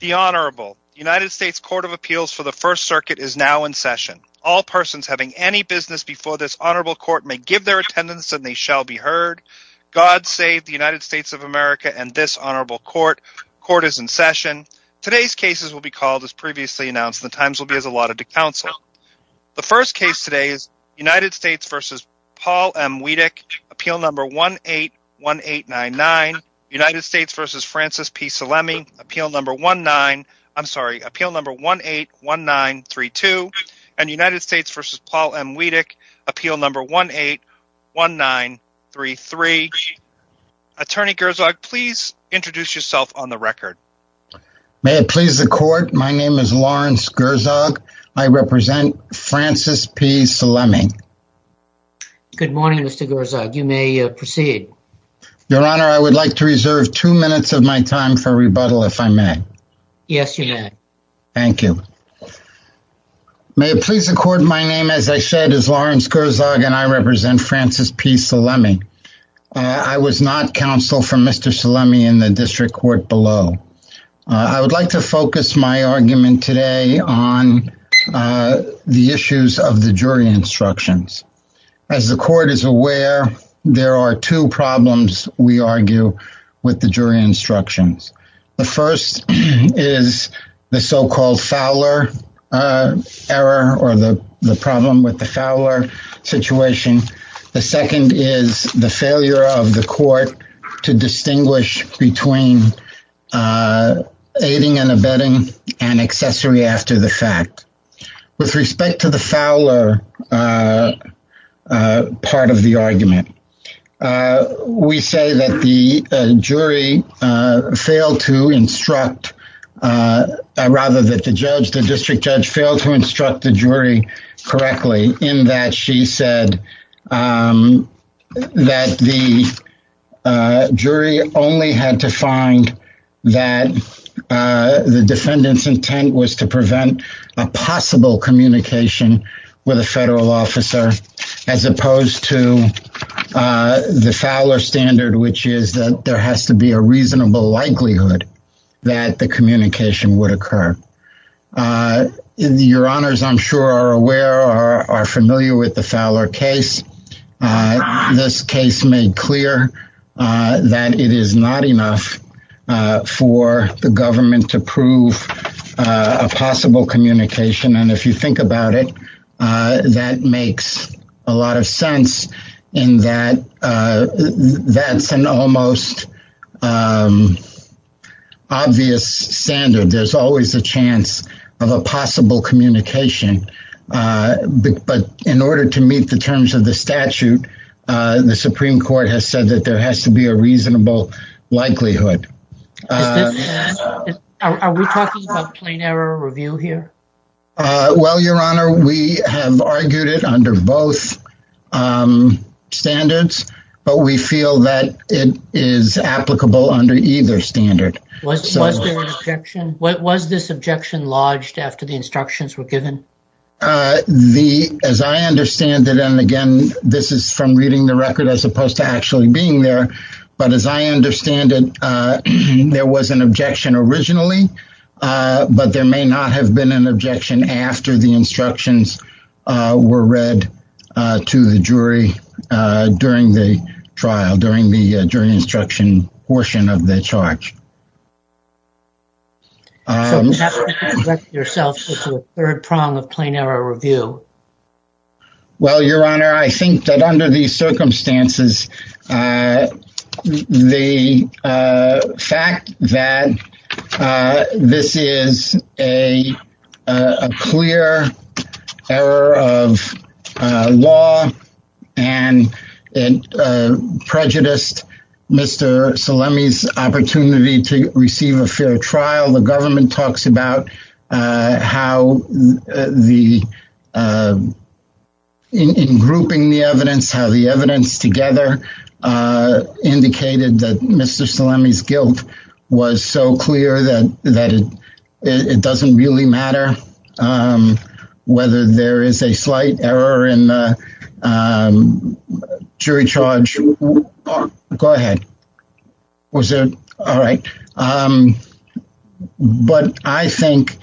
The Honorable United States Court of Appeals for the First Circuit is now in session. All persons having any business before this honorable court may give their attendance and they shall be heard. God save the United States of America and this honorable court. Court is in session. Today's cases will be called as previously announced. The times will be as allotted to counsel. The first case today is United States v. Paul M. Weadick, appeal number 181899. United States v. Francis P. Salemi, appeal number 181932 and United States v. Paul M. Weadick, appeal number 181933. Attorney Gerzog, please introduce yourself on the record. May it please the court. My name is Lawrence Gerzog. I represent Francis P. Salemi. Good morning, Mr. Gerzog. You may proceed. Your Honor, I would like to reserve two minutes of my time for rebuttal, if I may. Yes, you may. Thank you. May it please the court. My name, as I said, is Lawrence Gerzog and I represent Francis P. Salemi. I was not counsel for Mr. Salemi in the district court below. I would like to focus my argument today on the issues of the jury instructions. As the court is aware, there are two problems we argue with the jury instructions. The first is the so-called Fowler error or the problem with the Fowler situation. The second is the failure of the court to distinguish between aiding and abetting and accessory after the fact. With respect to the Fowler part of the argument, we say that the jury failed to instruct, rather that the judge, failed to instruct the jury correctly in that she said that the jury only had to find that the defendant's intent was to prevent a possible communication with a federal officer, as opposed to the Fowler standard, which is that there has to be a reasonable likelihood that the communication would occur. Your honors, I'm sure, are aware or are familiar with the Fowler case. This case made clear that it is not enough for the government to prove a possible communication. If you think about it, that makes a lot of sense in that that's an almost obvious standard. There's always a chance of a possible communication. In order to meet the terms of the statute, the Supreme Court has said that there has to be a reasonable likelihood. Is this? Are we talking about plain error review here? Well, your honor, we have argued it under both standards, but we feel that it is applicable under either standard. Was there an objection? Was this objection lodged after the instructions were given? As I understand it, and again, this is from reading the record as opposed to actually being there, but as I understand it, there was an objection originally, but there may not have been an objection after the instructions were read to the jury during the trial, during the jury instruction portion of the charge. So, you have to correct yourself to the third prong of plain error review. Well, your honor, I think that under these circumstances, the fact that this is a clear error of law and prejudiced Mr. Salemi's opportunity to receive a fair trial, the government talks about how the, in grouping the evidence, how the evidence together indicated that Mr. Salemi's guilt was so clear that it doesn't really matter whether there is a slight error in the jury charge. Go ahead. Was it? All right. But I think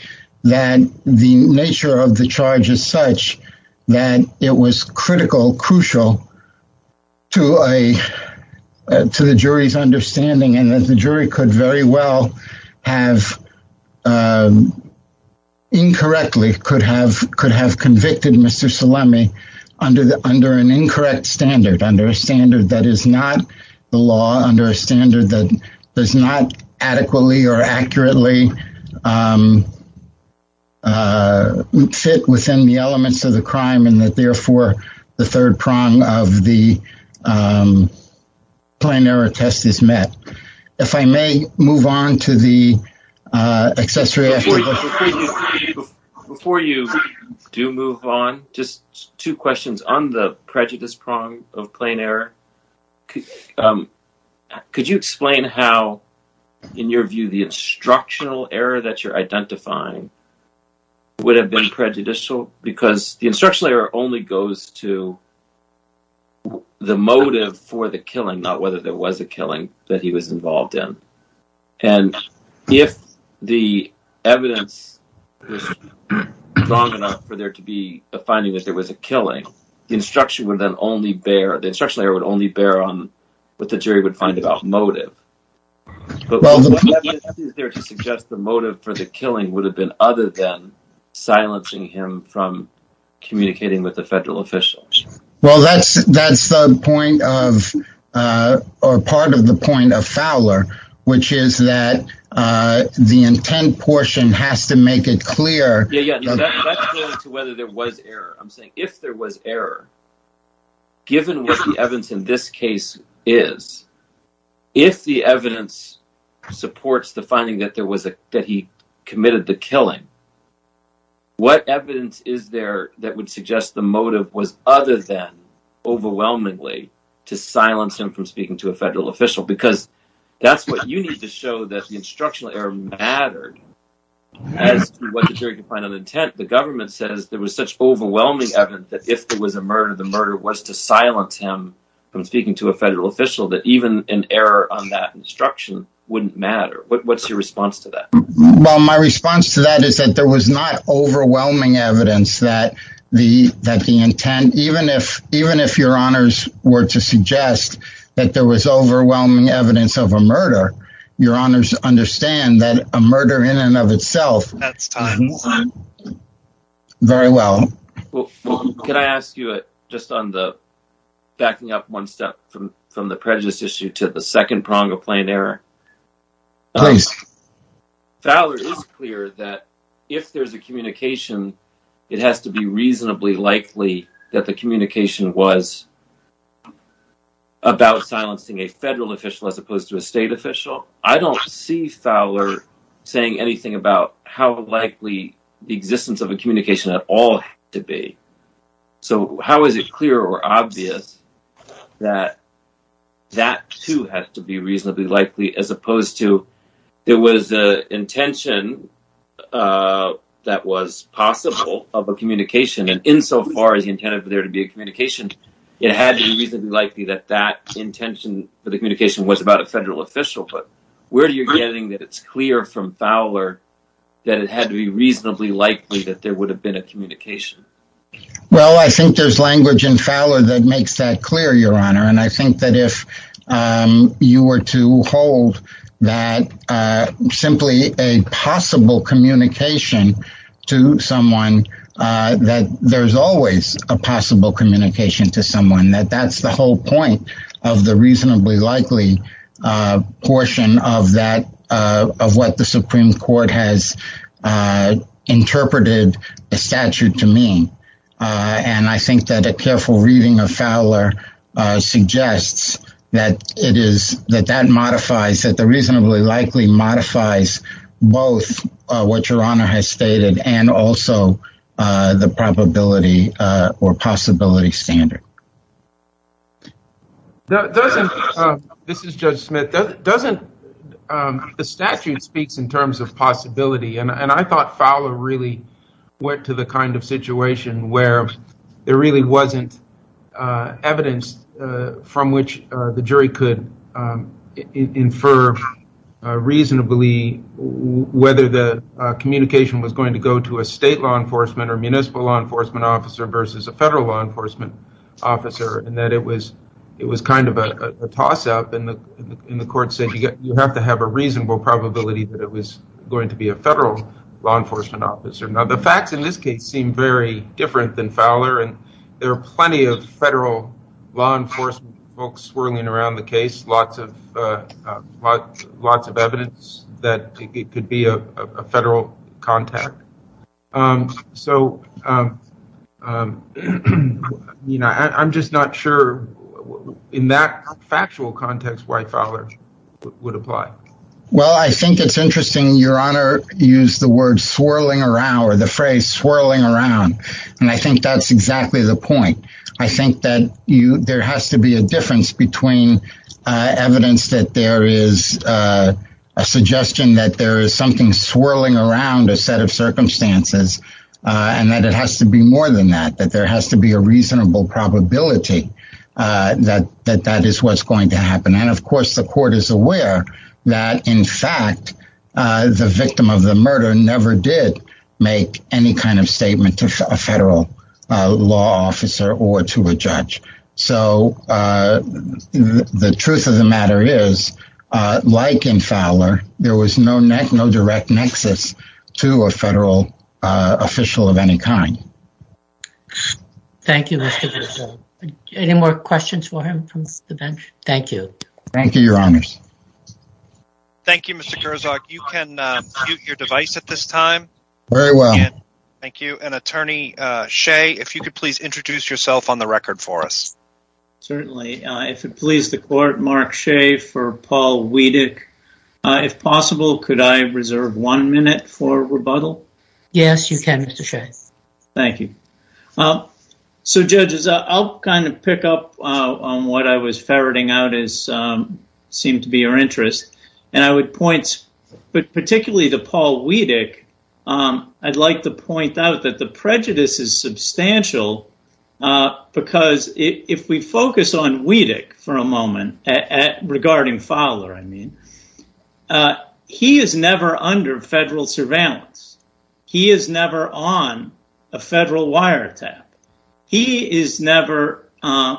that the nature of the charge is such that it was critical, crucial to the jury's understanding and that the jury could very well have, incorrectly, could have convicted Mr. Salemi under an incorrect standard, under a standard that is not adequately or accurately fit within the elements of the crime and that therefore, the third prong of the plain error test is met. If I may move on to the accessory. Before you do move on, just two questions on the prejudice prong of plain error. Could you explain how, in your view, the instructional error that you're identifying would have been prejudicial? Because the instructional error only goes to the motive for the killing, not whether there was a killing that he was involved in. And if the evidence was strong enough for there to be a finding that there was a killing, the instructional error would only bear on what the jury would find about motive. But what evidence is there to suggest the motive for the killing would have been other than silencing him from communicating with the federal officials? Well, that's part of the point of Fowler, which is that the intent portion has to make it clear. That's going to whether there was error. I'm saying if there was error, given what the evidence in this case is, if the evidence supports the finding that there was a that he committed the killing, what evidence is there that would suggest the motive was other than overwhelmingly to silence him from speaking to a federal official? Because that's what you need to show that the instructional error mattered as to what the jury could find on intent. The government says there was such overwhelming evidence that if there was a murder, the murder was to silence him from speaking to a federal official that even an error on that instruction wouldn't matter. What's your response to that? Well, my response to that is that there was not overwhelming evidence that the intent, even if your honors were to suggest that there was overwhelming evidence of a murder, your honors understand that a murder in and of itself. Very well. Can I ask you just on the backing up one step from the prejudice issue to the second prong of plain error? Fowler is clear that if there's a communication, it has to be reasonably likely that the communication was about silencing a federal official as opposed to a state official. I don't see Fowler saying anything about how likely the existence of a communication at all to be. So how is it clear or obvious that that too has to be reasonably likely as opposed to there was an intention that was possible of a communication and insofar as he intended for there to be a communication, it had to be reasonably likely that that intention for the communication was about a federal official. But where do you getting that it's clear from Fowler that it had to be reasonably likely that there would have been a communication? Well, I think there's language in Fowler that makes that clear, your honor. And I think that if you were to hold that simply a possible communication to someone, that there's always a possible communication to someone that that's the whole point of the reasonably likely portion of that of what the Supreme Court has interpreted a statute to mean. And I think that a careful reading of Fowler suggests that it is that that modifies that the reasonably likely modifies both what your honor has stated and also the probability or possibility standard. This is Judge Smith. The statute speaks in terms of possibility and I thought Fowler really went to the kind of situation where there really wasn't evidence from which the jury could infer reasonably whether the communication was going to go to a state law enforcement or municipal law enforcement officer versus a federal law enforcement officer and that it was it was kind of a toss up and the court said you have to have a reasonable probability that it was going to be a the facts in this case seem very different than Fowler and there are plenty of federal law enforcement folks swirling around the case. Lots of lots of evidence that it could be a federal contact. So, you know, I'm just not sure in that factual context why Fowler would apply. Well, I think it's interesting your honor use the word swirling around or the phrase swirling around and I think that's exactly the point. I think that you there has to be a difference between evidence that there is a suggestion that there is something swirling around a set of circumstances and that it has to be more than that that there has to be a reasonable probability that that that is what's going to happen. And of course, the court is aware that in fact, the victim of the murder never did make any kind of statement to a federal law officer or to a judge. So, the truth of the matter is like in Fowler, there was no direct nexus to a federal official of any kind. Thank you. Any more questions for him from the bench? Thank you. Thank you, your honors. Thank you, Mr. Gerzog. You can mute your device at this time. Very well. Thank you. And attorney Shea, if you could please introduce yourself on the record for us. Certainly. If it pleases the court, Mark Shea for Paul Wiedek. If possible, could I reserve one minute for rebuttal? Yes, you can, Mr. Shea. Thank you. So, judges, I'll kind of pick up on what I was ferreting out as seemed to be your interest. And I would point particularly to Paul Wiedek, I'd like to point out that the prejudice is substantial. Because if we focus on Wiedek for a moment at regarding Fowler, I mean, he is never under federal surveillance. He is never on a federal wiretap. He is never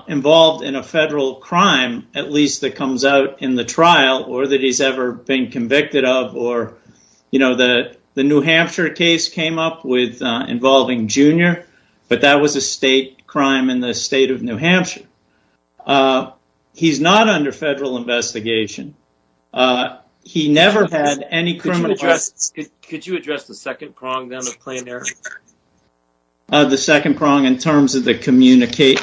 involved in a federal crime, at least that comes out in the trial or that he's ever been convicted of or, you know, the New Hampshire case came up with involving Junior, but that was a state crime in the state of New Hampshire. He's not under federal investigation. He never had any criminal Could you address the second prong then of plain error? The second prong in terms of the communicate.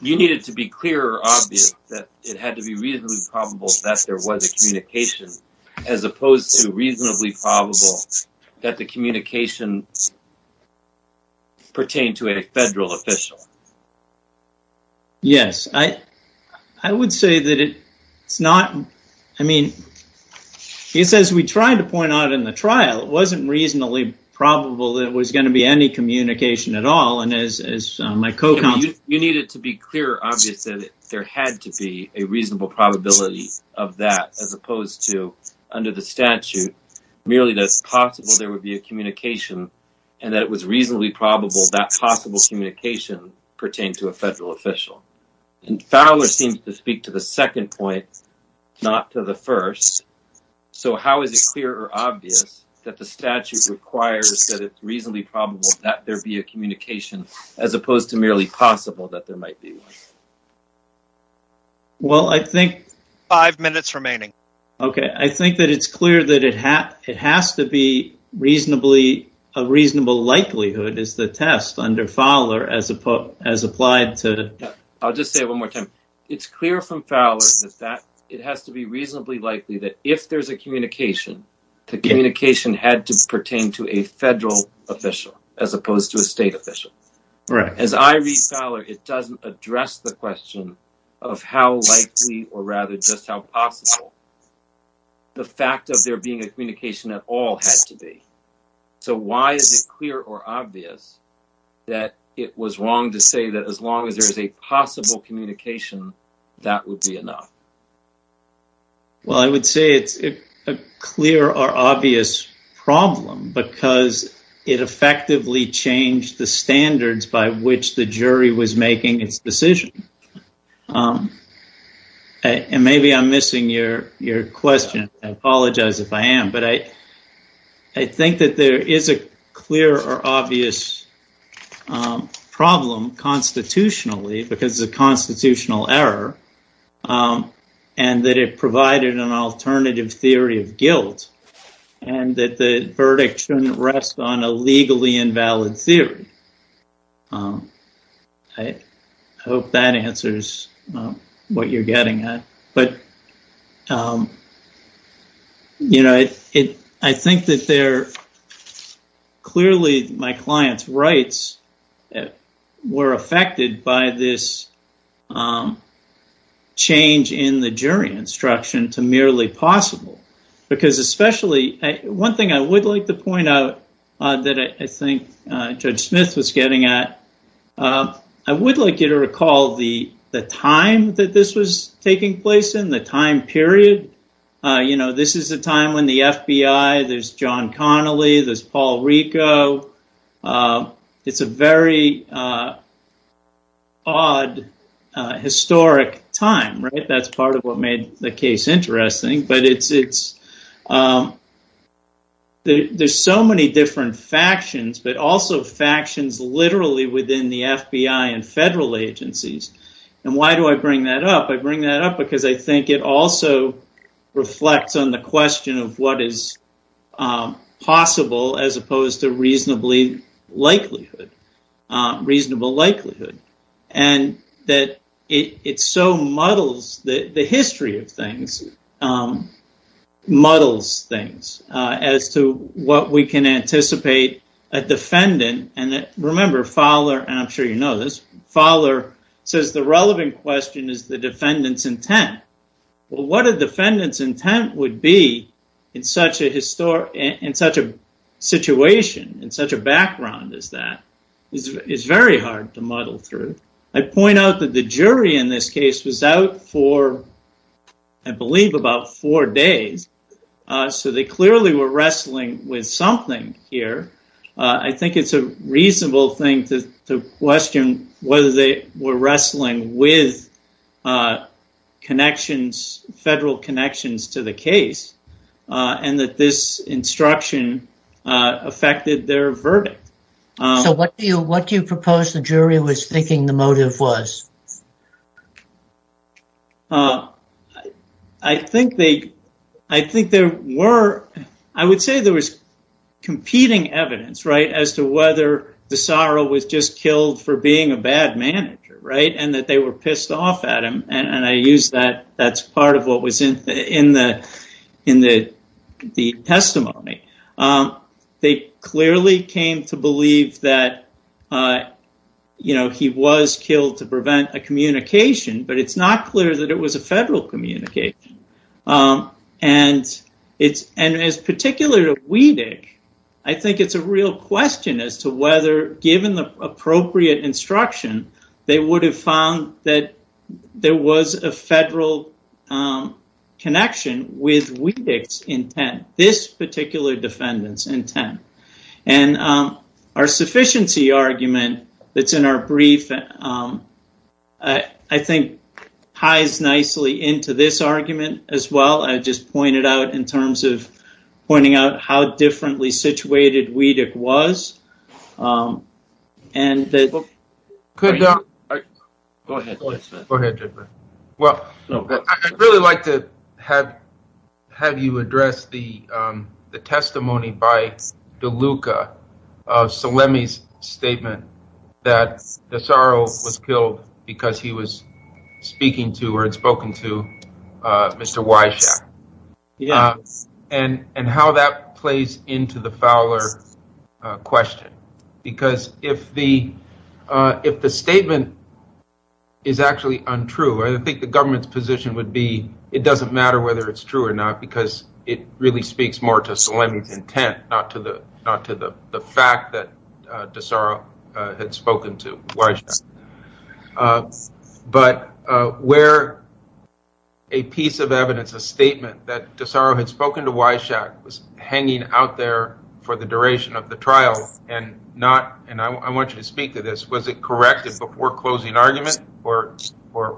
You need it to be clear or obvious that it had to be reasonably probable that there was a communication, as opposed to reasonably probable that the communication pertained to a federal official. Yes, I would say that it's not, I mean, it's as we tried to point out in the trial, it wasn't reasonably probable that it was going to be any communication at all. And as my co-counsel, You need it to be clear or obvious that there had to be a reasonable probability of that, as opposed to under the statute, merely that it's possible there would be a communication and that it was reasonably probable that possible communication pertained to a federal official. And Fowler seems to speak to the second point, not to the first. So how is it clear or obvious that the statute requires that it's reasonably probable that there be a communication, as opposed to merely possible that there might be one? Well, I think... Five minutes remaining. Okay, I think that it's clear that it has to be reasonably, a reasonable likelihood is the test under Fowler as applied to... I'll just say it one more time. It's clear from Fowler that it has to be reasonably likely that if there's a communication, the communication had to pertain to a federal official, as opposed to a the question of how likely, or rather just how possible, the fact of there being a communication at all had to be. So why is it clear or obvious that it was wrong to say that as long as there's a possible communication, that would be enough? Well, I would say it's a clear or obvious problem, because it effectively changed the standards by which the jury was making its decision. And maybe I'm missing your question. I apologize if I am, but I think that there is a clear or obvious problem constitutionally, because it's a constitutional error, and that it provided an alternative theory of guilt, and that the verdict shouldn't rest on a legally invalid theory. I hope that answers what you're getting at. But I think that there... My client's rights were affected by this change in the jury instruction to merely possible, because especially... One thing I would like to point out that I think Judge Smith was getting at, I would like you to recall the time that this was taking place in, the time period. You know, this is a time when the FBI, there's John Connolly, there's Paul Rico. It's a very odd, historic time, right? That's part of what made the case interesting. But there's so many different factions, but also factions literally within the FBI and federal agencies. And why do I bring that up? I bring that up because I think it also reflects on the question of what is possible, as opposed to reasonable likelihood. And that it so muddles the history of things, muddles things, as to what we can anticipate a defendant. And remember, and I'm sure you know this, Fowler says the relevant question is the defendant's intent. Well, what a defendant's intent would be in such a situation, in such a background as that, is very hard to muddle through. I point out that the jury in this case was out for, I believe, about four days. So they clearly were wrestling with something here. I think it's a question whether they were wrestling with connections, federal connections to the case, and that this instruction affected their verdict. So what do you propose the jury was thinking the motive was? I think there were, I would say there was competing evidence, right, as to whether DeSaro was just killed for being a bad manager, right, and that they were pissed off at him. And I use that, that's part of what was in the testimony. They clearly came to believe that he was killed to prevent a communication, but it's not clear that it was a federal communication. And it's, and as particular to Weedick, I think it's a real question as to whether, given the appropriate instruction, they would have found that there was a federal connection with Weedick's intent, this particular defendant's intent. And our sufficiency argument that's in our brief, I think, ties nicely into this argument as well. I just pointed out in terms of pointing out how differently situated Weedick was. Go ahead, go ahead, go ahead, Jeffrey. Well, I'd really like to have you address the testimony by DeLuca of Salemi's statement that DeSaro was killed because he was speaking to, or had spoken to, Mr. Wyshak. Because if the statement is actually untrue, I think the government's position would be it doesn't matter whether it's true or not because it really speaks more to Salemi's intent, not to the fact that DeSaro had spoken to Wyshak. But where a piece of evidence, a statement that DeSaro had spoken to Wyshak was hanging out there for the duration of the trial, and I want you to speak to this, was it corrected before closing argument or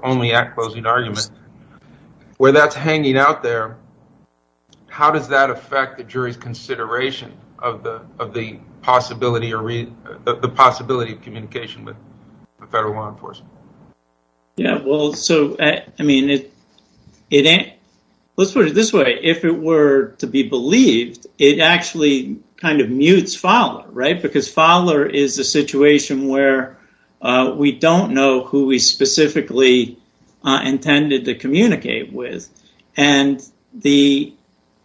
only at closing argument? Where that's hanging out there, how does that affect the jury's consideration of the possibility of communication with the federal law enforcement? Yeah, well, so, I mean, let's put it this way, if it were to be believed, it actually kind of mutes Fowler, right? Because Fowler is a situation where we don't know who we specifically intended to communicate with, and the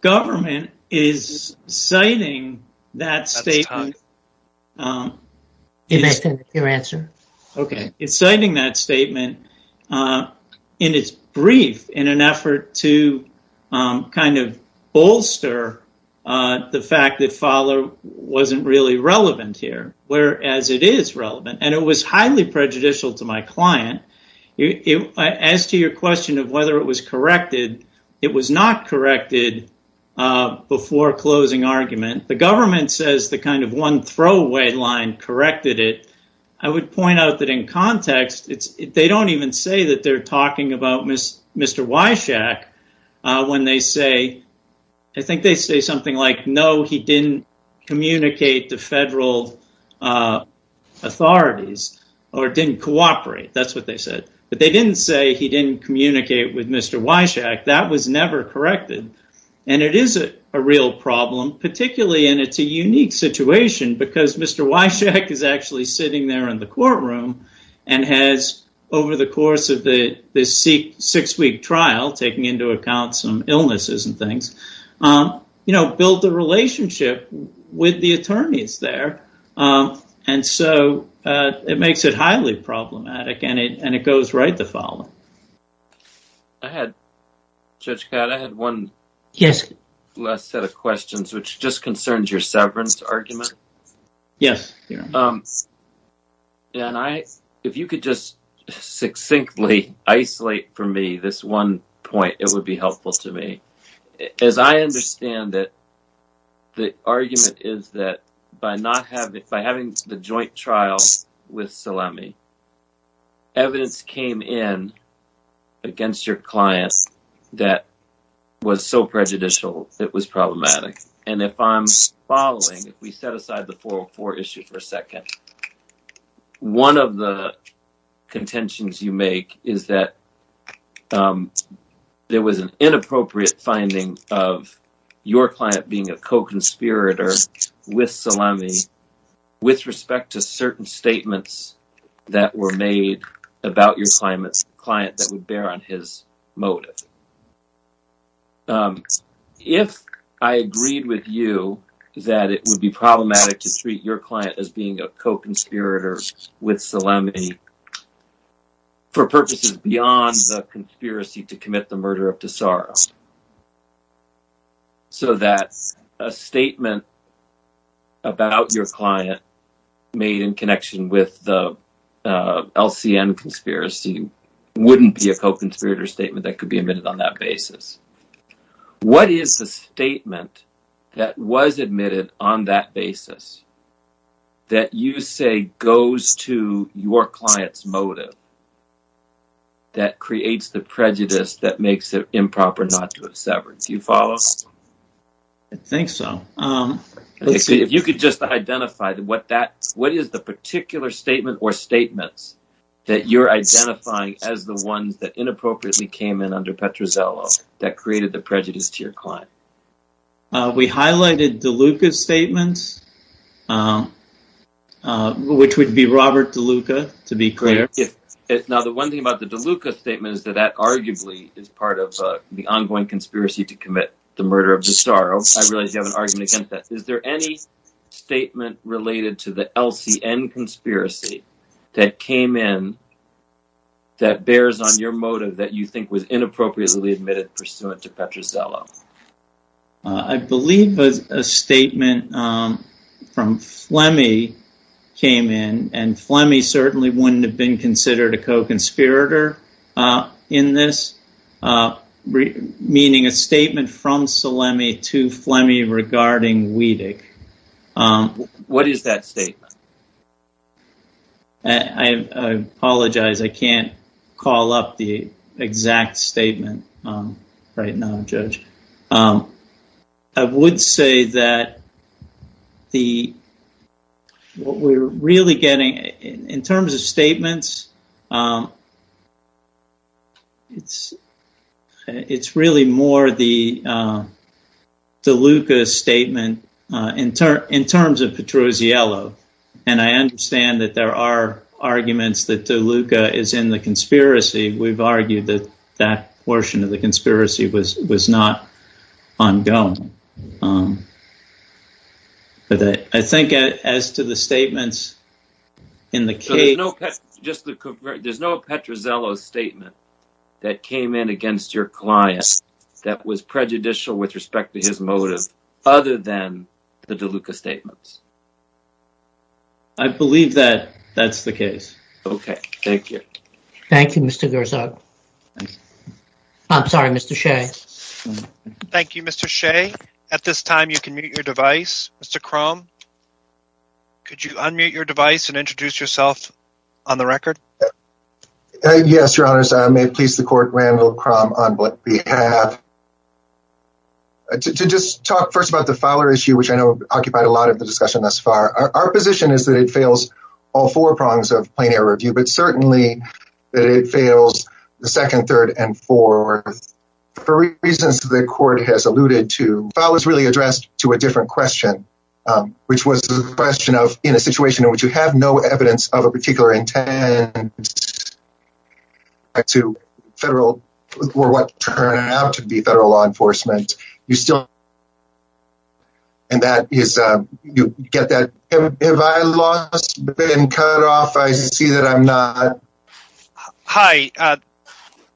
government is citing that statement. That's tough. If that's your answer. Okay. It's citing that statement in its brief in an effort to kind of bolster the fact that Fowler wasn't really relevant here, whereas it is relevant, and it was highly prejudicial to my client. As to your question of whether it was corrected, it was not corrected before closing argument. The government says the kind of one throwaway line corrected it. I would point out that in context, they don't even say that they're talking about Mr. Wyshak when they say, I think they say something like, no, he didn't communicate to federal authorities or didn't cooperate. That's what they said. But they didn't say he didn't communicate with Mr. Wyshak. That was never corrected. It is a real problem, particularly in it's a unique situation because Mr. Wyshak is actually sitting there in the courtroom and has, over the course of the six-week trial, taking into account some illnesses and things, built a relationship with the attorneys there. It makes it highly problematic, and it goes right to Fowler. I had, Judge Codd, I had one last set of questions, which just concerns your severance argument. Yes. If you could just succinctly isolate for me this one point, it would be helpful to me. As I understand it, the argument is that by having the joint trial with Salemi, evidence came in against your client that was so prejudicial, it was problematic. And if I'm following, if we set aside the 404 issue for a second, one of the contentions you make is that there was an inappropriate finding of your client being a co-conspirator with Salemi with respect to certain statements that were made about your client that would bear on his motive. If I agreed with you that it would be problematic to treat your client as being a co-conspirator with Salemi for purposes beyond the conspiracy to commit the murder of Tesoro, so that a statement about your client made in connection with the LCN conspiracy wouldn't be a co-conspirator statement that could be admitted on that basis, what is the statement that was admitted on that basis that you say goes to your client's motive that creates the prejudice that makes it improper not to have severed? Do you follow? I think so. If you could just identify what is the particular statement or statements that you're identifying as the ones that inappropriately came in under Petruzzello that created the prejudice to your client? We highlighted DeLuca's statements, which would be Robert DeLuca, to be clear. Now the one thing about the DeLuca statement is that that arguably is part of the ongoing conspiracy to commit the murder of Tesoro. I realize you have an argument against that. Is there any statement related to the LCN conspiracy that came in that bears on your motive that you think was inappropriately admitted pursuant to Petruzzello? I believe a statement from Flemmy came in, and Flemmy certainly wouldn't have been considered a co-conspirator in this, meaning a statement from Salemi to Flemmy regarding Wiedig. What is that statement? I apologize, I can't call up the exact statement right now, Judge. I would say that what we're really getting in terms of statements, it's really more the DeLuca statement in terms of Petruzzello, and I understand that there are arguments that DeLuca is in the conspiracy. We've argued that that portion of the conspiracy was not ongoing, but I think as to the statements in the case... There's no Petruzzello statement that came in against your client that was prejudicial with respect to his motive, other than the DeLuca statements? I believe that that's the case. Okay, thank you. Thank you, Mr. Gerzog. I'm sorry, Mr. Shea. Thank you, Mr. Shea. At this time, you can mute your device. Mr. Krom, could you unmute your device and introduce yourself on the record? Yes, Your Honors. I may please the court, Randall Krom, on what we have. To just talk first about the Fowler issue, which I know occupied a lot of the discussion thus far. Our position is that it fails all four prongs of plein air review, but certainly that it fails the second, third, and fourth. For reasons the court has alluded to, Fowler's really addressed to a different question, which was the question of, in a situation in which you have no evidence of a particular intent to federal, or what turned out to be federal law enforcement, you still... And that is, you get that, have I lost, been cut off? I see that I'm not. Hi,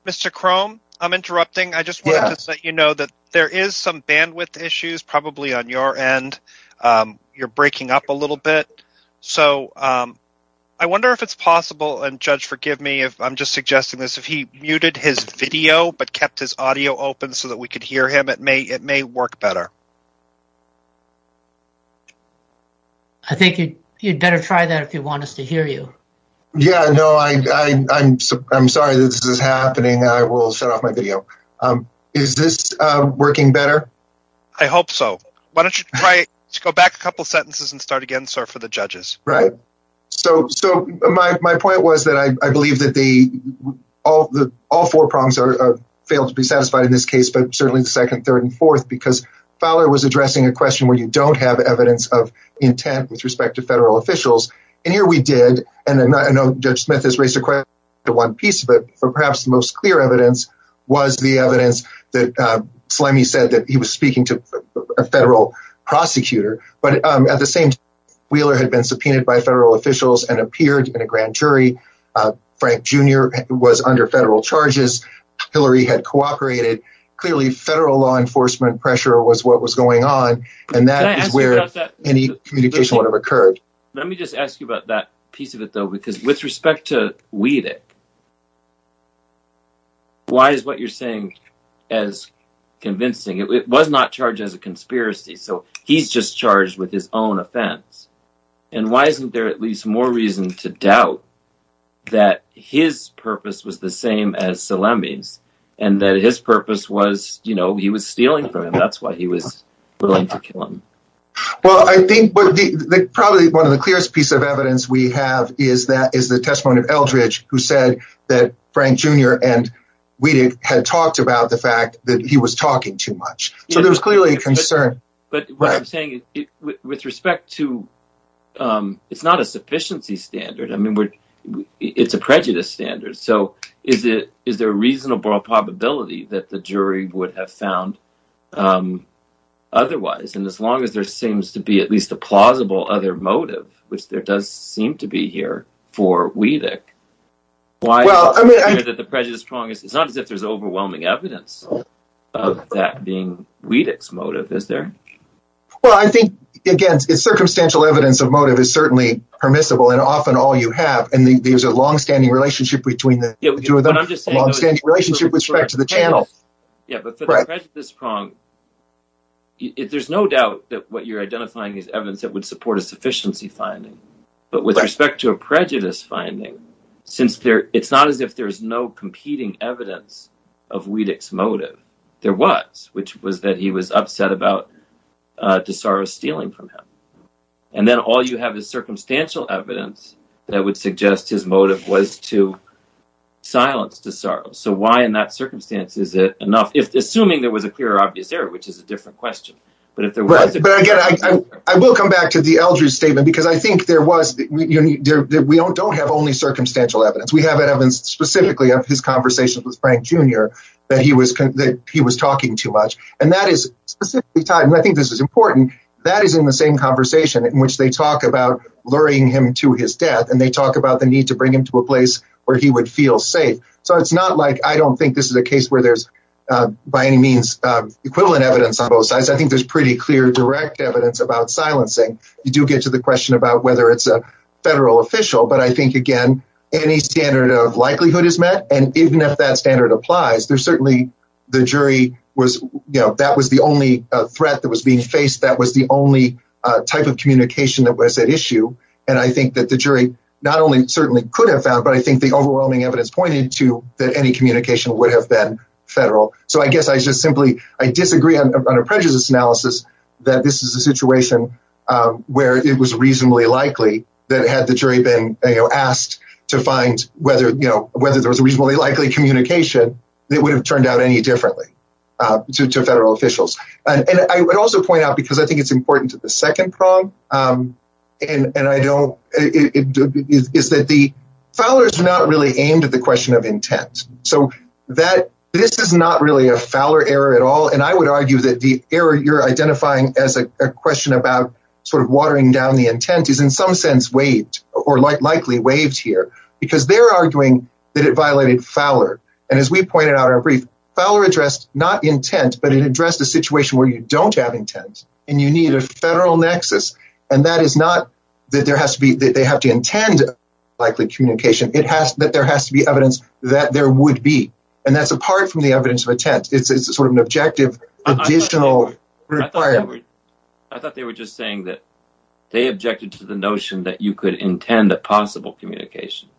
Mr. Krom, I'm interrupting. I just wanted to let you know that there is some bandwidth issues, probably on your end. You're breaking up a little bit. So, I wonder if it's possible, and Judge, forgive me if I'm just suggesting this, if he muted his video, but kept his audio open so that we could hear him, it may work better. I think you'd better try that if you want us to hear you. Yeah, no, I'm sorry that this is happening. I will shut off my video. Is this working better? I hope so. Why don't you go back a couple sentences and start again, sir, for the judges. Right. So, my point was that I believe that all four prongs failed to be satisfied in this case, but certainly the second, third, and fourth, because Fowler was addressing a question where you don't have evidence of intent with respect to federal officials, and here we did, and Judge Smith has raised a question to one piece of it, but perhaps the most clear evidence was the evidence that Sleimy said that he was speaking to a federal prosecutor, but at the same time, Wheeler had been subpoenaed by federal officials and appeared in a grand jury. Frank Jr. was under federal charges. Hillary had cooperated. Clearly, federal law enforcement pressure was what was going on, and that is where any communication would have occurred. Let me just ask you about that piece of it, though, because with respect to Wheeler, why is what you're saying as convincing? It was not charged as a conspiracy, so he's just charged with his own offense, and why isn't there at least more reason to doubt that his purpose was the same as Sleimy's, and that his purpose was, you know, he was stealing from him. That's why he was willing to kill him. Well, I think probably one of the clearest pieces of evidence we have is the testimony of Eldridge, who said that Frank Jr. and Wheeler had talked about the fact that he was talking too much, so there was clearly a concern. But what I'm saying is, with respect to, it's not a sufficiency standard. I mean, it's a prejudice standard, so is there a reasonable probability that the jury would have found otherwise? And as long as there seems to be at least a plausible other motive, which there does seem to be here for Weedek, it's not as if there's overwhelming evidence of that being Weedek's motive, is there? Well, I think, again, circumstantial evidence of motive is certainly permissible, and often all you have, and there's a long-standing relationship with respect to the channel. Yeah, but for the prejudice prong, there's no doubt that what you're identifying is evidence that would support a sufficiency finding. But with respect to a prejudice finding, since it's not as if there's no competing evidence of Weedek's motive, there was, which was that he was upset about DeSoro stealing from him. And then all you have is circumstantial evidence that would suggest his motive was to silence DeSoro. So why, in that circumstance, is it enough? Assuming there was a clear, obvious error, which is a different question. But again, I will come back to the Eldridge statement, because I think there was, we don't have only circumstantial evidence. We have evidence specifically of his conversation with Frank Jr. that he was talking too much. And that is specifically tied, and I think this is important, that is in the same conversation in which they talk about luring him to his death, and they talk about the need to bring him to a place where he would feel safe. So it's not like, I don't think this is a case where there's, by any means, equivalent evidence on both sides. I think there's pretty clear direct evidence about silencing. You do get to the question about whether it's a federal official, but I think, again, any standard of likelihood is met. And even if that standard applies, there's certainly, the jury was, you know, that was the only threat that was being faced. That was the only type of communication that was at issue. And I think that the jury not only certainly could have found, but I think the overwhelming evidence pointed to that any communication would have been federal. So I guess I just simply, I disagree on a prejudice analysis that this is a situation where it was reasonably likely that had the jury been asked to find whether, you know, whether there was a reasonably likely communication, it would have turned out any differently to federal officials. And I would also point out, because I think it's important to the second prong, and I don't, is that the, Fowler's not really aimed at the question of intent. So that, this is not really a Fowler error at all. And I would argue that the error you're identifying as a question about sort of watering down the intent is in some sense waived or likely waived here because they're arguing that it violated Fowler. And as we pointed out in our brief, Fowler addressed not intent, but it addressed a situation where you don't have intent and you need a federal nexus. And that is not that there has to be, that they have to intend likely communication. It has that there has to be evidence that there would be. And that's apart from the evidence of intent. It's sort of an objective additional requirement. I thought they were just saying that they objected to the notion that you could intend a possible communication.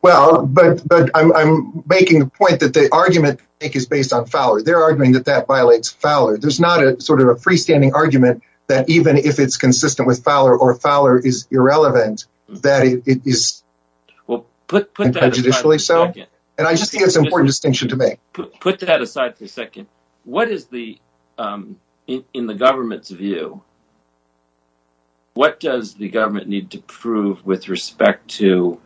Well, but I'm making the point that the argument is based on Fowler. They're arguing that that violates Fowler. There's not a sort of a freestanding argument that even if it's consistent with Fowler or Fowler is irrelevant, that it is prejudicially so. And I just think it's an important distinction to make. Put that aside for a second. What is the, in the government's view, what does the government need to prove with respect to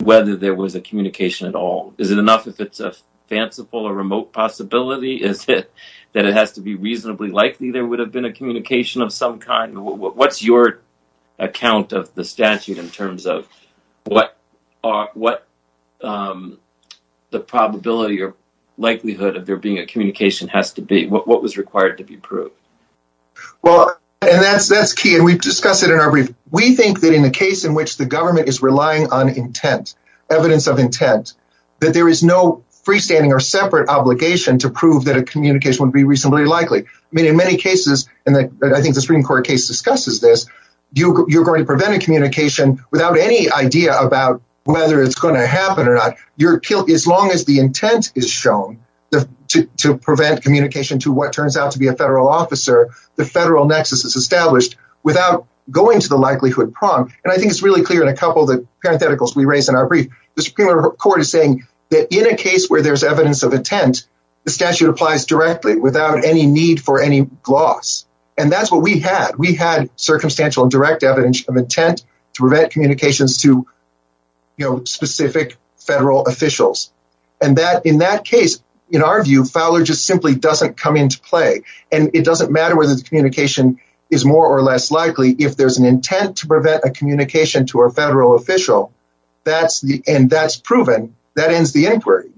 whether there was a communication at all? Is it enough if it's a fanciful or remote possibility? Is it that it has to be reasonably likely there would have been a communication of some kind? What's your account of the statute in terms of what the probability or likelihood of there being a communication has to be? What was required to be proved? Well, and that's key. And we've discussed it in our brief. We think that in the case in which the government is relying on intent, evidence of intent, that there is no freestanding or separate obligation to prove that a communication would be reasonably likely. I mean, in many cases, and I think the Supreme Court case discusses this, you're going to prevent a communication without any idea about whether it's going to happen or not. As long as the intent is shown to prevent communication to what turns out to be a federal officer, the federal nexus is established without going to the likelihood prong. And I think it's really clear in a couple of the parentheticals we raised in our brief. The Supreme Court is saying that in a case where there's evidence of intent, the statute applies directly without any need for any gloss. And that's what we had. We had circumstantial and direct evidence of intent to prevent communications to specific federal officials. And in that case, in our view, Fowler just simply doesn't come into play. And it doesn't matter whether the communication is more or less likely if there's an intent to prevent a communication to a federal official. That's the end. That's proven. That ends the inquiry.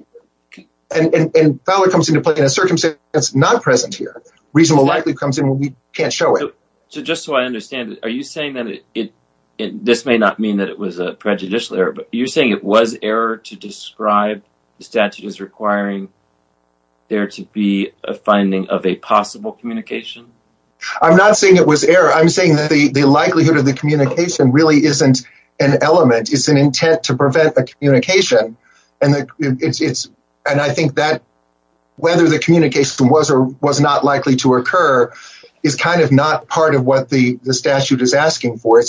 And Fowler comes into play in a circumstance that's not present here. Reasonable likelihood comes in when we can't show it. So just so I understand it, are you saying that this may not mean that it was a prejudicial error, but you're saying it was error to describe the statute as requiring there to be a finding of a possible communication? I'm not saying it was error. I'm saying that the likelihood of the communication really isn't an element. It's an intent to prevent a communication. And I think that whether the communication was or was not likely to occur is kind of not part of what the statute is asking for.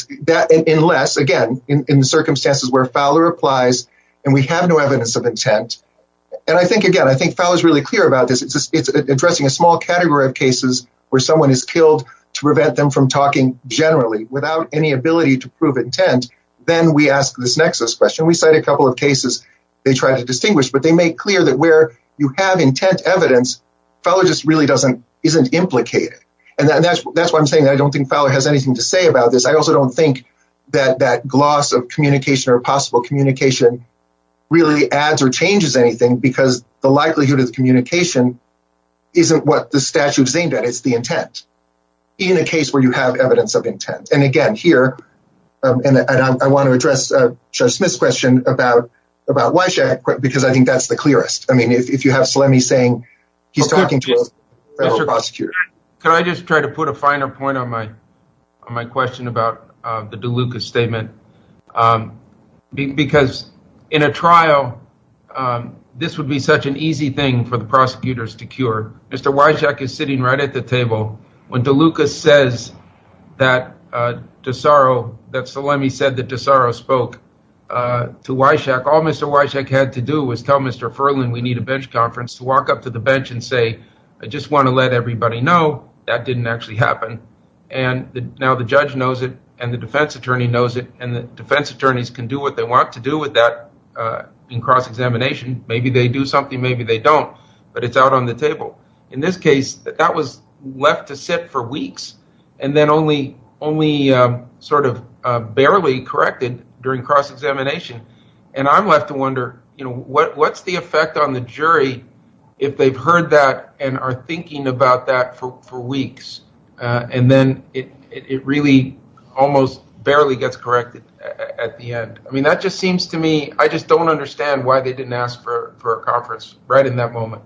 Unless, again, in the circumstances where Fowler applies and we have no evidence of intent. And I think, again, I think Fowler is really clear about this. It's addressing a small category of cases where someone is killed to prevent them from talking generally without any ability to prove intent. Then we ask this nexus question. We cite a couple of cases they try to distinguish, but they make clear that where you have intent evidence, Fowler just really doesn't, isn't implicated. And that's why I'm saying I don't think Fowler has anything to say about this. I also don't think that that gloss of communication or possible communication really adds or changes anything because the likelihood of the communication isn't what the statute is aimed at. It's the intent. In a case where you have evidence of intent. And again, here, I want to address Judge Smith's question about Wyshak because I think that's the clearest. I mean, if you have Salemi saying he's talking to a federal prosecutor. Could I just try to put a finer point on my question about the DeLucas statement? Because in a trial, this would be such an easy thing for the prosecutors to cure. When DeLucas says that DeSaro, that Salemi said that DeSaro spoke to Wyshak, all Mr. Wyshak had to do was tell Mr. Furlan we need a bench conference to walk up to the bench and say, I just want to let everybody know that didn't actually happen. And now the judge knows it and the defense attorney knows it and the defense attorneys can do what they want to do with that in cross-examination. Maybe they do something, maybe they don't, but it's out on the table. In this case, that was left to sit for weeks and then only sort of barely corrected during cross-examination. And I'm left to wonder, what's the effect on the jury if they've heard that and are thinking about that for weeks? And then it really almost barely gets corrected at the end. I mean, that just seems to me, I just don't understand why they didn't ask for a conference right in that moment.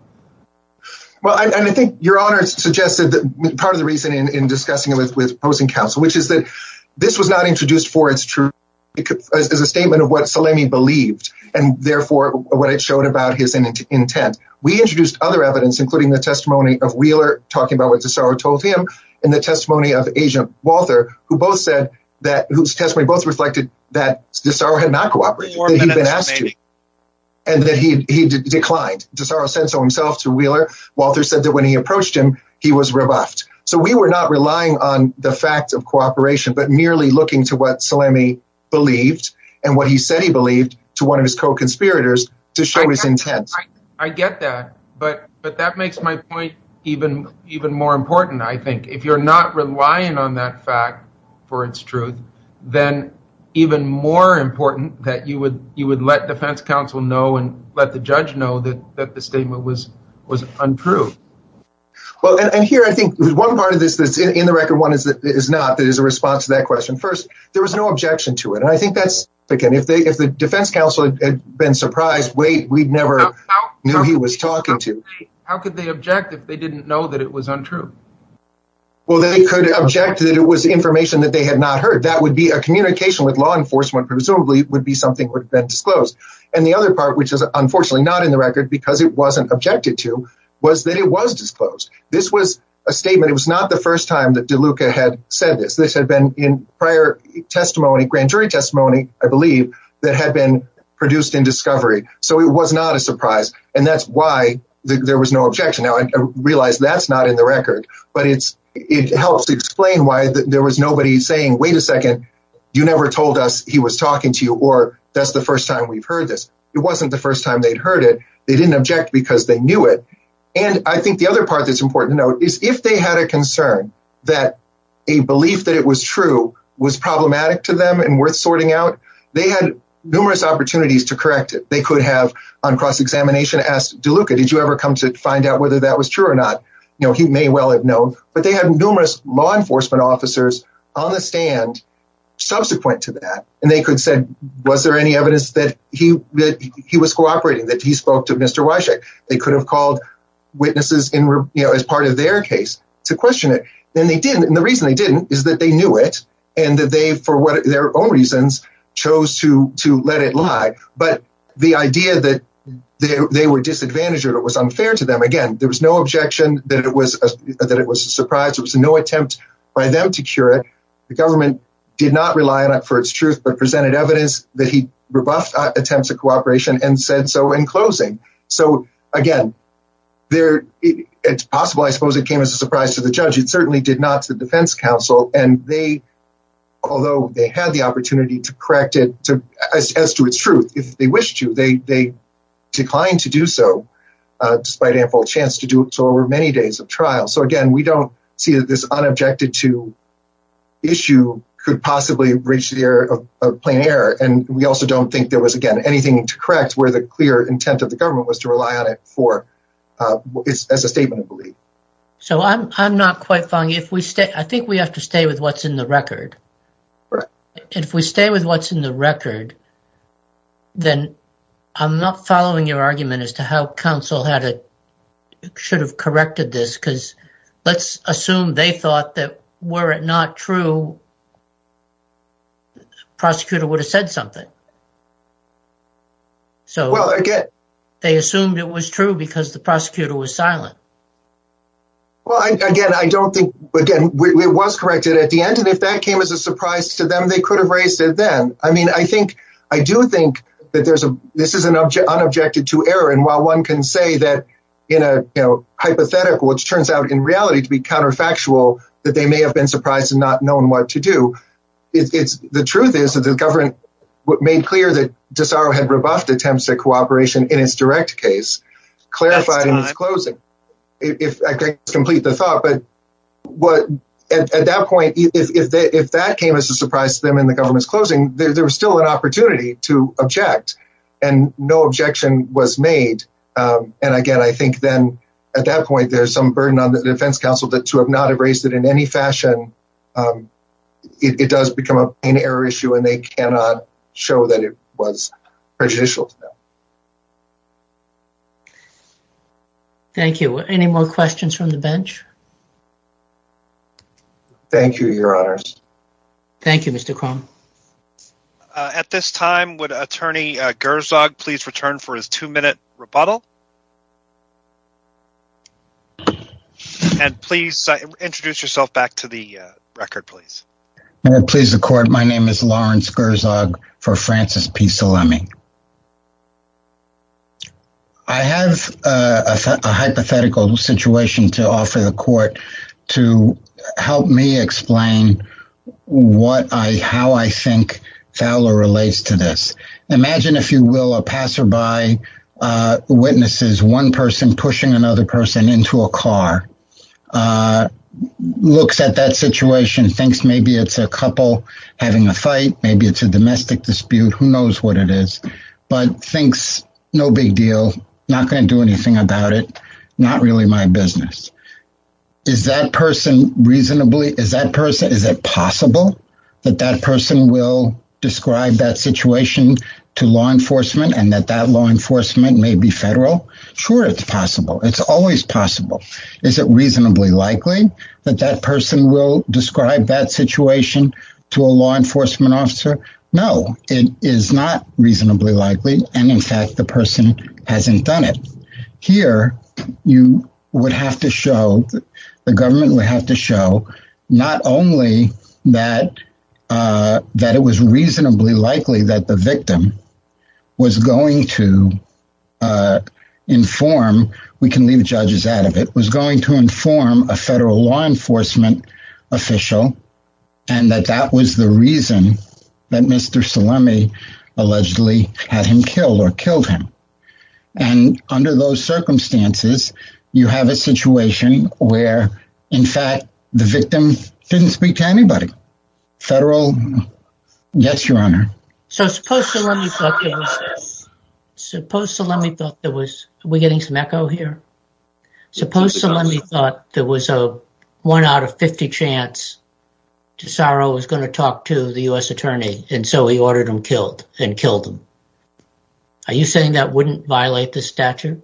And I think your honor suggested that part of the reason in discussing it with opposing counsel, which is that this was not introduced for its true as a statement of what Salemi believed and therefore what it showed about his intent. We introduced other evidence, including the testimony of Wheeler talking about what DeSaro told him and the testimony of Asia Walther, who both said that, whose testimony both reflected that DeSaro had not cooperated. Walther said that when he approached him, he was rebuffed. So we were not relying on the fact of cooperation, but merely looking to what Salemi believed and what he said he believed to one of his co-conspirators to show his intent. I get that, but that makes my point even more important, I think. If you're not relying on that fact for its truth, then even more important that you would let defense counsel know and let the judge know that the statement was untrue. Well, and here, I think one part of this that's in the record, one is not, that is a response to that question. First, there was no objection to it. And I think that's, again, if the defense counsel had been surprised, wait, we'd never knew he was talking to. How could they object if they didn't know that it was untrue? Well, they could object that it was information that they had not heard. That would be a communication with law enforcement, presumably would be something that would have been disclosed. And the other part, which is unfortunately not in the record because it wasn't objected to, was that it was disclosed. This was a statement. It was not the first time that DeLuca had said this. This had been in prior testimony, grand jury testimony, I believe, that had been produced in discovery. So it was not a surprise. And that's why there was no objection. Now, I realize that's not in the record, but it helps explain why there was nobody saying, wait a second, you never told us he was talking to you or that's the first time we've heard this. It wasn't the first time they'd heard it. They didn't object because they knew it. And I think the other part that's important to note is if they had a concern that a belief that it was true was problematic to them and worth sorting out, they had numerous opportunities to correct it. They could have on cross-examination asked DeLuca, did you ever come to find out whether that was true or not? You know, he may well have known, but they had numerous law enforcement officers on the stand subsequent to that. And they could have said, was there any evidence that he was cooperating, that he spoke to Mr. Wyshek? They could have called witnesses as part of their case to question it. And they didn't. And the reason they didn't is that they knew it and that they, for their own reasons, chose to let it lie. But the idea that they were disadvantaged or it was unfair to them, again, there was no objection that it was a surprise. There was no attempt by them to cure it. The government did not rely on it for its truth, but presented evidence that he rebuffed attempts at cooperation and said so in closing. So again, it's possible, I suppose, it came as a surprise to the judge. It certainly did not to the defense counsel. And they, although they had the opportunity to correct it as to its truth, if they wished to, they declined to do so despite ample chance to do so over many days of trial. So again, we don't see that this unobjected to issue could possibly reach the air of plain air. And we also don't think there was, again, anything to correct where the clear intent of the government was to rely on it for as a statement of belief. So I'm not quite following. If we stay, I think we have to stay with what's in the record. If we stay with what's in the record, then I'm not following your argument as to how counsel had, should have corrected this. Cause let's assume they thought that were it not true, the prosecutor would have said something. So they assumed it was true because the prosecutor was silent. Well, again, I don't think, again, it was corrected at the end. And if that came as a surprise to them, they could have raised it then. I mean, I think, I do think that there's a, this is an unobjected to error. And while one can say that in a hypothetical, which turns out in reality to be counterfactual, that they may have been surprised and not known what to do. The truth is that the government made clear that DeSaro had rebuffed attempts at cooperation in his direct case, clarified in his closing. If I can complete the thought, but at that point, if that came as a surprise to them in the government's closing, there was still an opportunity to object and no objection was made. And again, I think then at that point, there's some burden on the defense counsel that to have not erased it in any fashion, it does become an error issue and they cannot show that it was prejudicial. Thank you. Any more questions from the bench? Thank you, your honors. Thank you, Mr. Krohn. At this time, would attorney Gerzog please return for his two minute rebuttal? And please introduce yourself back to the record, please. May it please the court. My name is Lawrence Gerzog for Francis P. Salemi. I have a hypothetical situation to offer the court to help me explain how I think Fowler relates to this. Imagine, if you will, a passerby witnesses one person pushing another person into a car, looks at that situation, thinks maybe it's a couple having a fight, maybe it's a domestic dispute, who knows what it is, but thinks no big deal, not going to do anything about it, not really my business. Is that person reasonably, is that person, is it possible that that person will describe that situation to law enforcement and that that law enforcement may be federal? Sure, it's possible. It's always possible. Is it reasonably likely that that person will describe that situation to a law enforcement officer? No, it is not reasonably likely. And in fact, the person hasn't done it. Here, you would have to show, the government would have to show, not only that it was reasonably likely that the victim was going to inform, we can leave the judges out of it, was going to inform a federal law enforcement official and that that was the reason that Mr. Salemi allegedly had him killed or killed him. And under those circumstances, you have a situation where, in fact, the victim didn't speak to anybody. Federal? Yes, Your Honor. So suppose Salemi thought there was, suppose Salemi thought there was, are we getting some echo here? Suppose Salemi thought there was a one out of 50 chance DeSaro was going to talk to the U.S. attorney and so he ordered him killed and killed him. Are you saying that wouldn't violate the statute?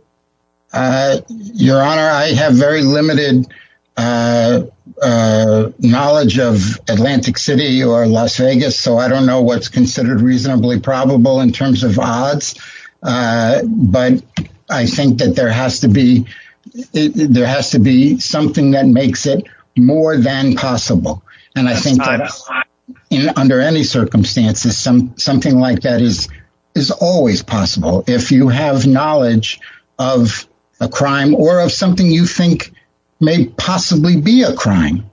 Your Honor, I have very limited knowledge of Atlantic City or Las Vegas, so I don't know what's considered reasonably probable in terms of odds. But I think that there has to be, there has to be something that makes it more than possible. And I think under any circumstances, something like that is always possible. If you have knowledge of a crime or of something you think may possibly be a crime,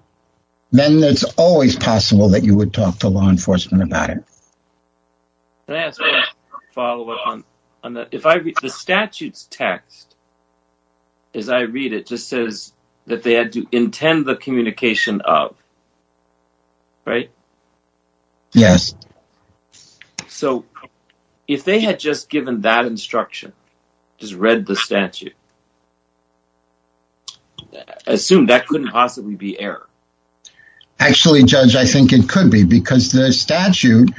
then it's always possible that you would talk to law enforcement about it. Can I ask a follow up on that? If I read the statute's text, as I read it, it just says that they had to intend the communication of, right? Yes. So if they had just given that instruction, just read the statute, assume that couldn't possibly be error. Actually, Judge, I think it could be because the statute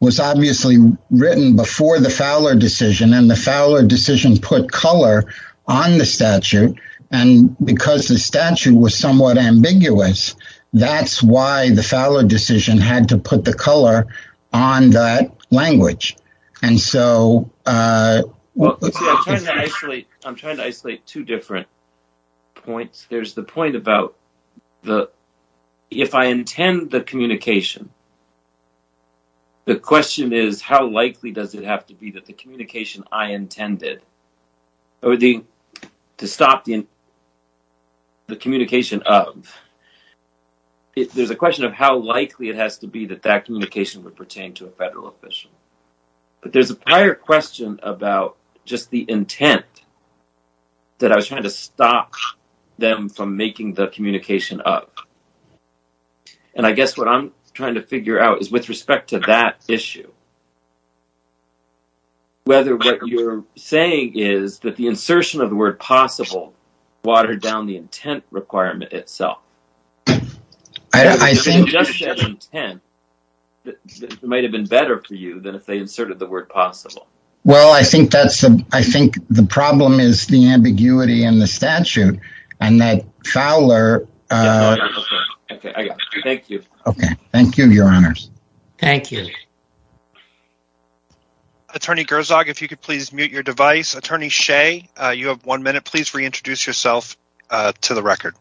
was obviously written before the Fowler decision and the Fowler decision put color on the statute. And because the statute was somewhat ambiguous, that's why the Fowler decision had to put the color on that language. And so- Well, let's see, I can't actually, I'm trying to isolate two different points. There's the point about the, if I intend the communication, the question is how likely does it have to be that the communication I intended to stop the communication of, there's a question of how likely it has to be that that communication would pertain to a federal official. But there's a prior question about just the intent that I was trying to stop them from making the communication of. And I guess what I'm trying to figure out is with respect to that issue, whether what you're saying is that the insertion of the word possible watered down the intent requirement itself. I think- If you just said intent, it might've been better for you than if they inserted the word possible. Well, I think that's, I think the problem is the ambiguity in the statute and that Fowler- Thank you. Okay, thank you, your honors. Thank you. Attorney Grzog, if you could please mute your device. Attorney Shea, you have one minute. Please reintroduce yourself to the record.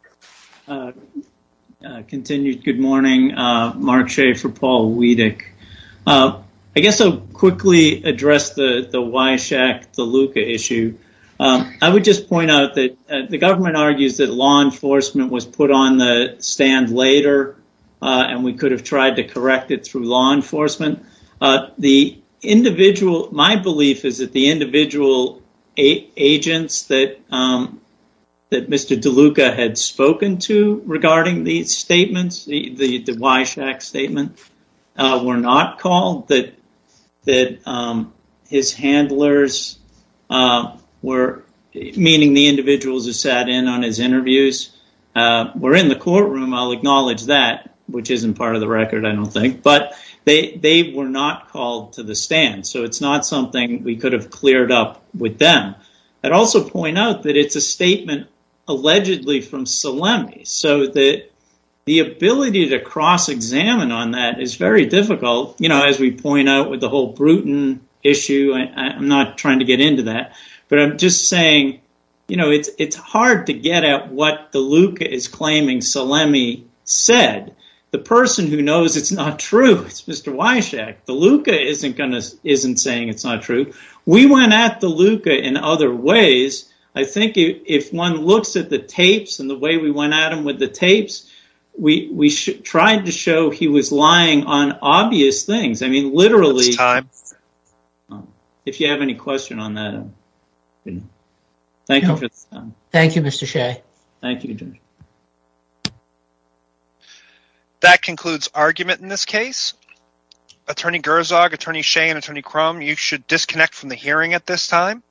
Continued, good morning. Mark Shea for Paul Wiedek. I guess I'll quickly address the Wyshack-Deluca issue. I would just point out that the government argues that law enforcement was put on the stand later and we could have tried to correct it through law enforcement. My belief is that the individual agents that Mr. Deluca had spoken to regarding these statements, the Wyshack statement, were not called, that his handlers were, meaning the individuals who sat in on his interviews, were in the courtroom. I'll acknowledge that, which isn't part of the record, I don't think, but they were not called to the stand. So it's not something we could have cleared up with them. I'd also point out that it's a statement allegedly from Solemni so that the ability to cross-examine on that is very difficult, as we point out with the whole Bruton issue. I'm not trying to get into that, but I'm just saying it's hard to get at what Deluca is claiming Solemni said. The person who knows it's not true, it's Mr. Wyshack. Deluca isn't saying it's not true. We went at Deluca in other ways. I think if one looks at the tapes and the way we went at him with the tapes, we tried to show he was lying on obvious things. I mean, literally... If you have any question on that, thank you for this time. Thank you, Mr. Shea. Thank you, Judge. That concludes argument in this case. Attorney Gerzog, Attorney Shea, and Attorney Crum, you should disconnect from the hearing at this time.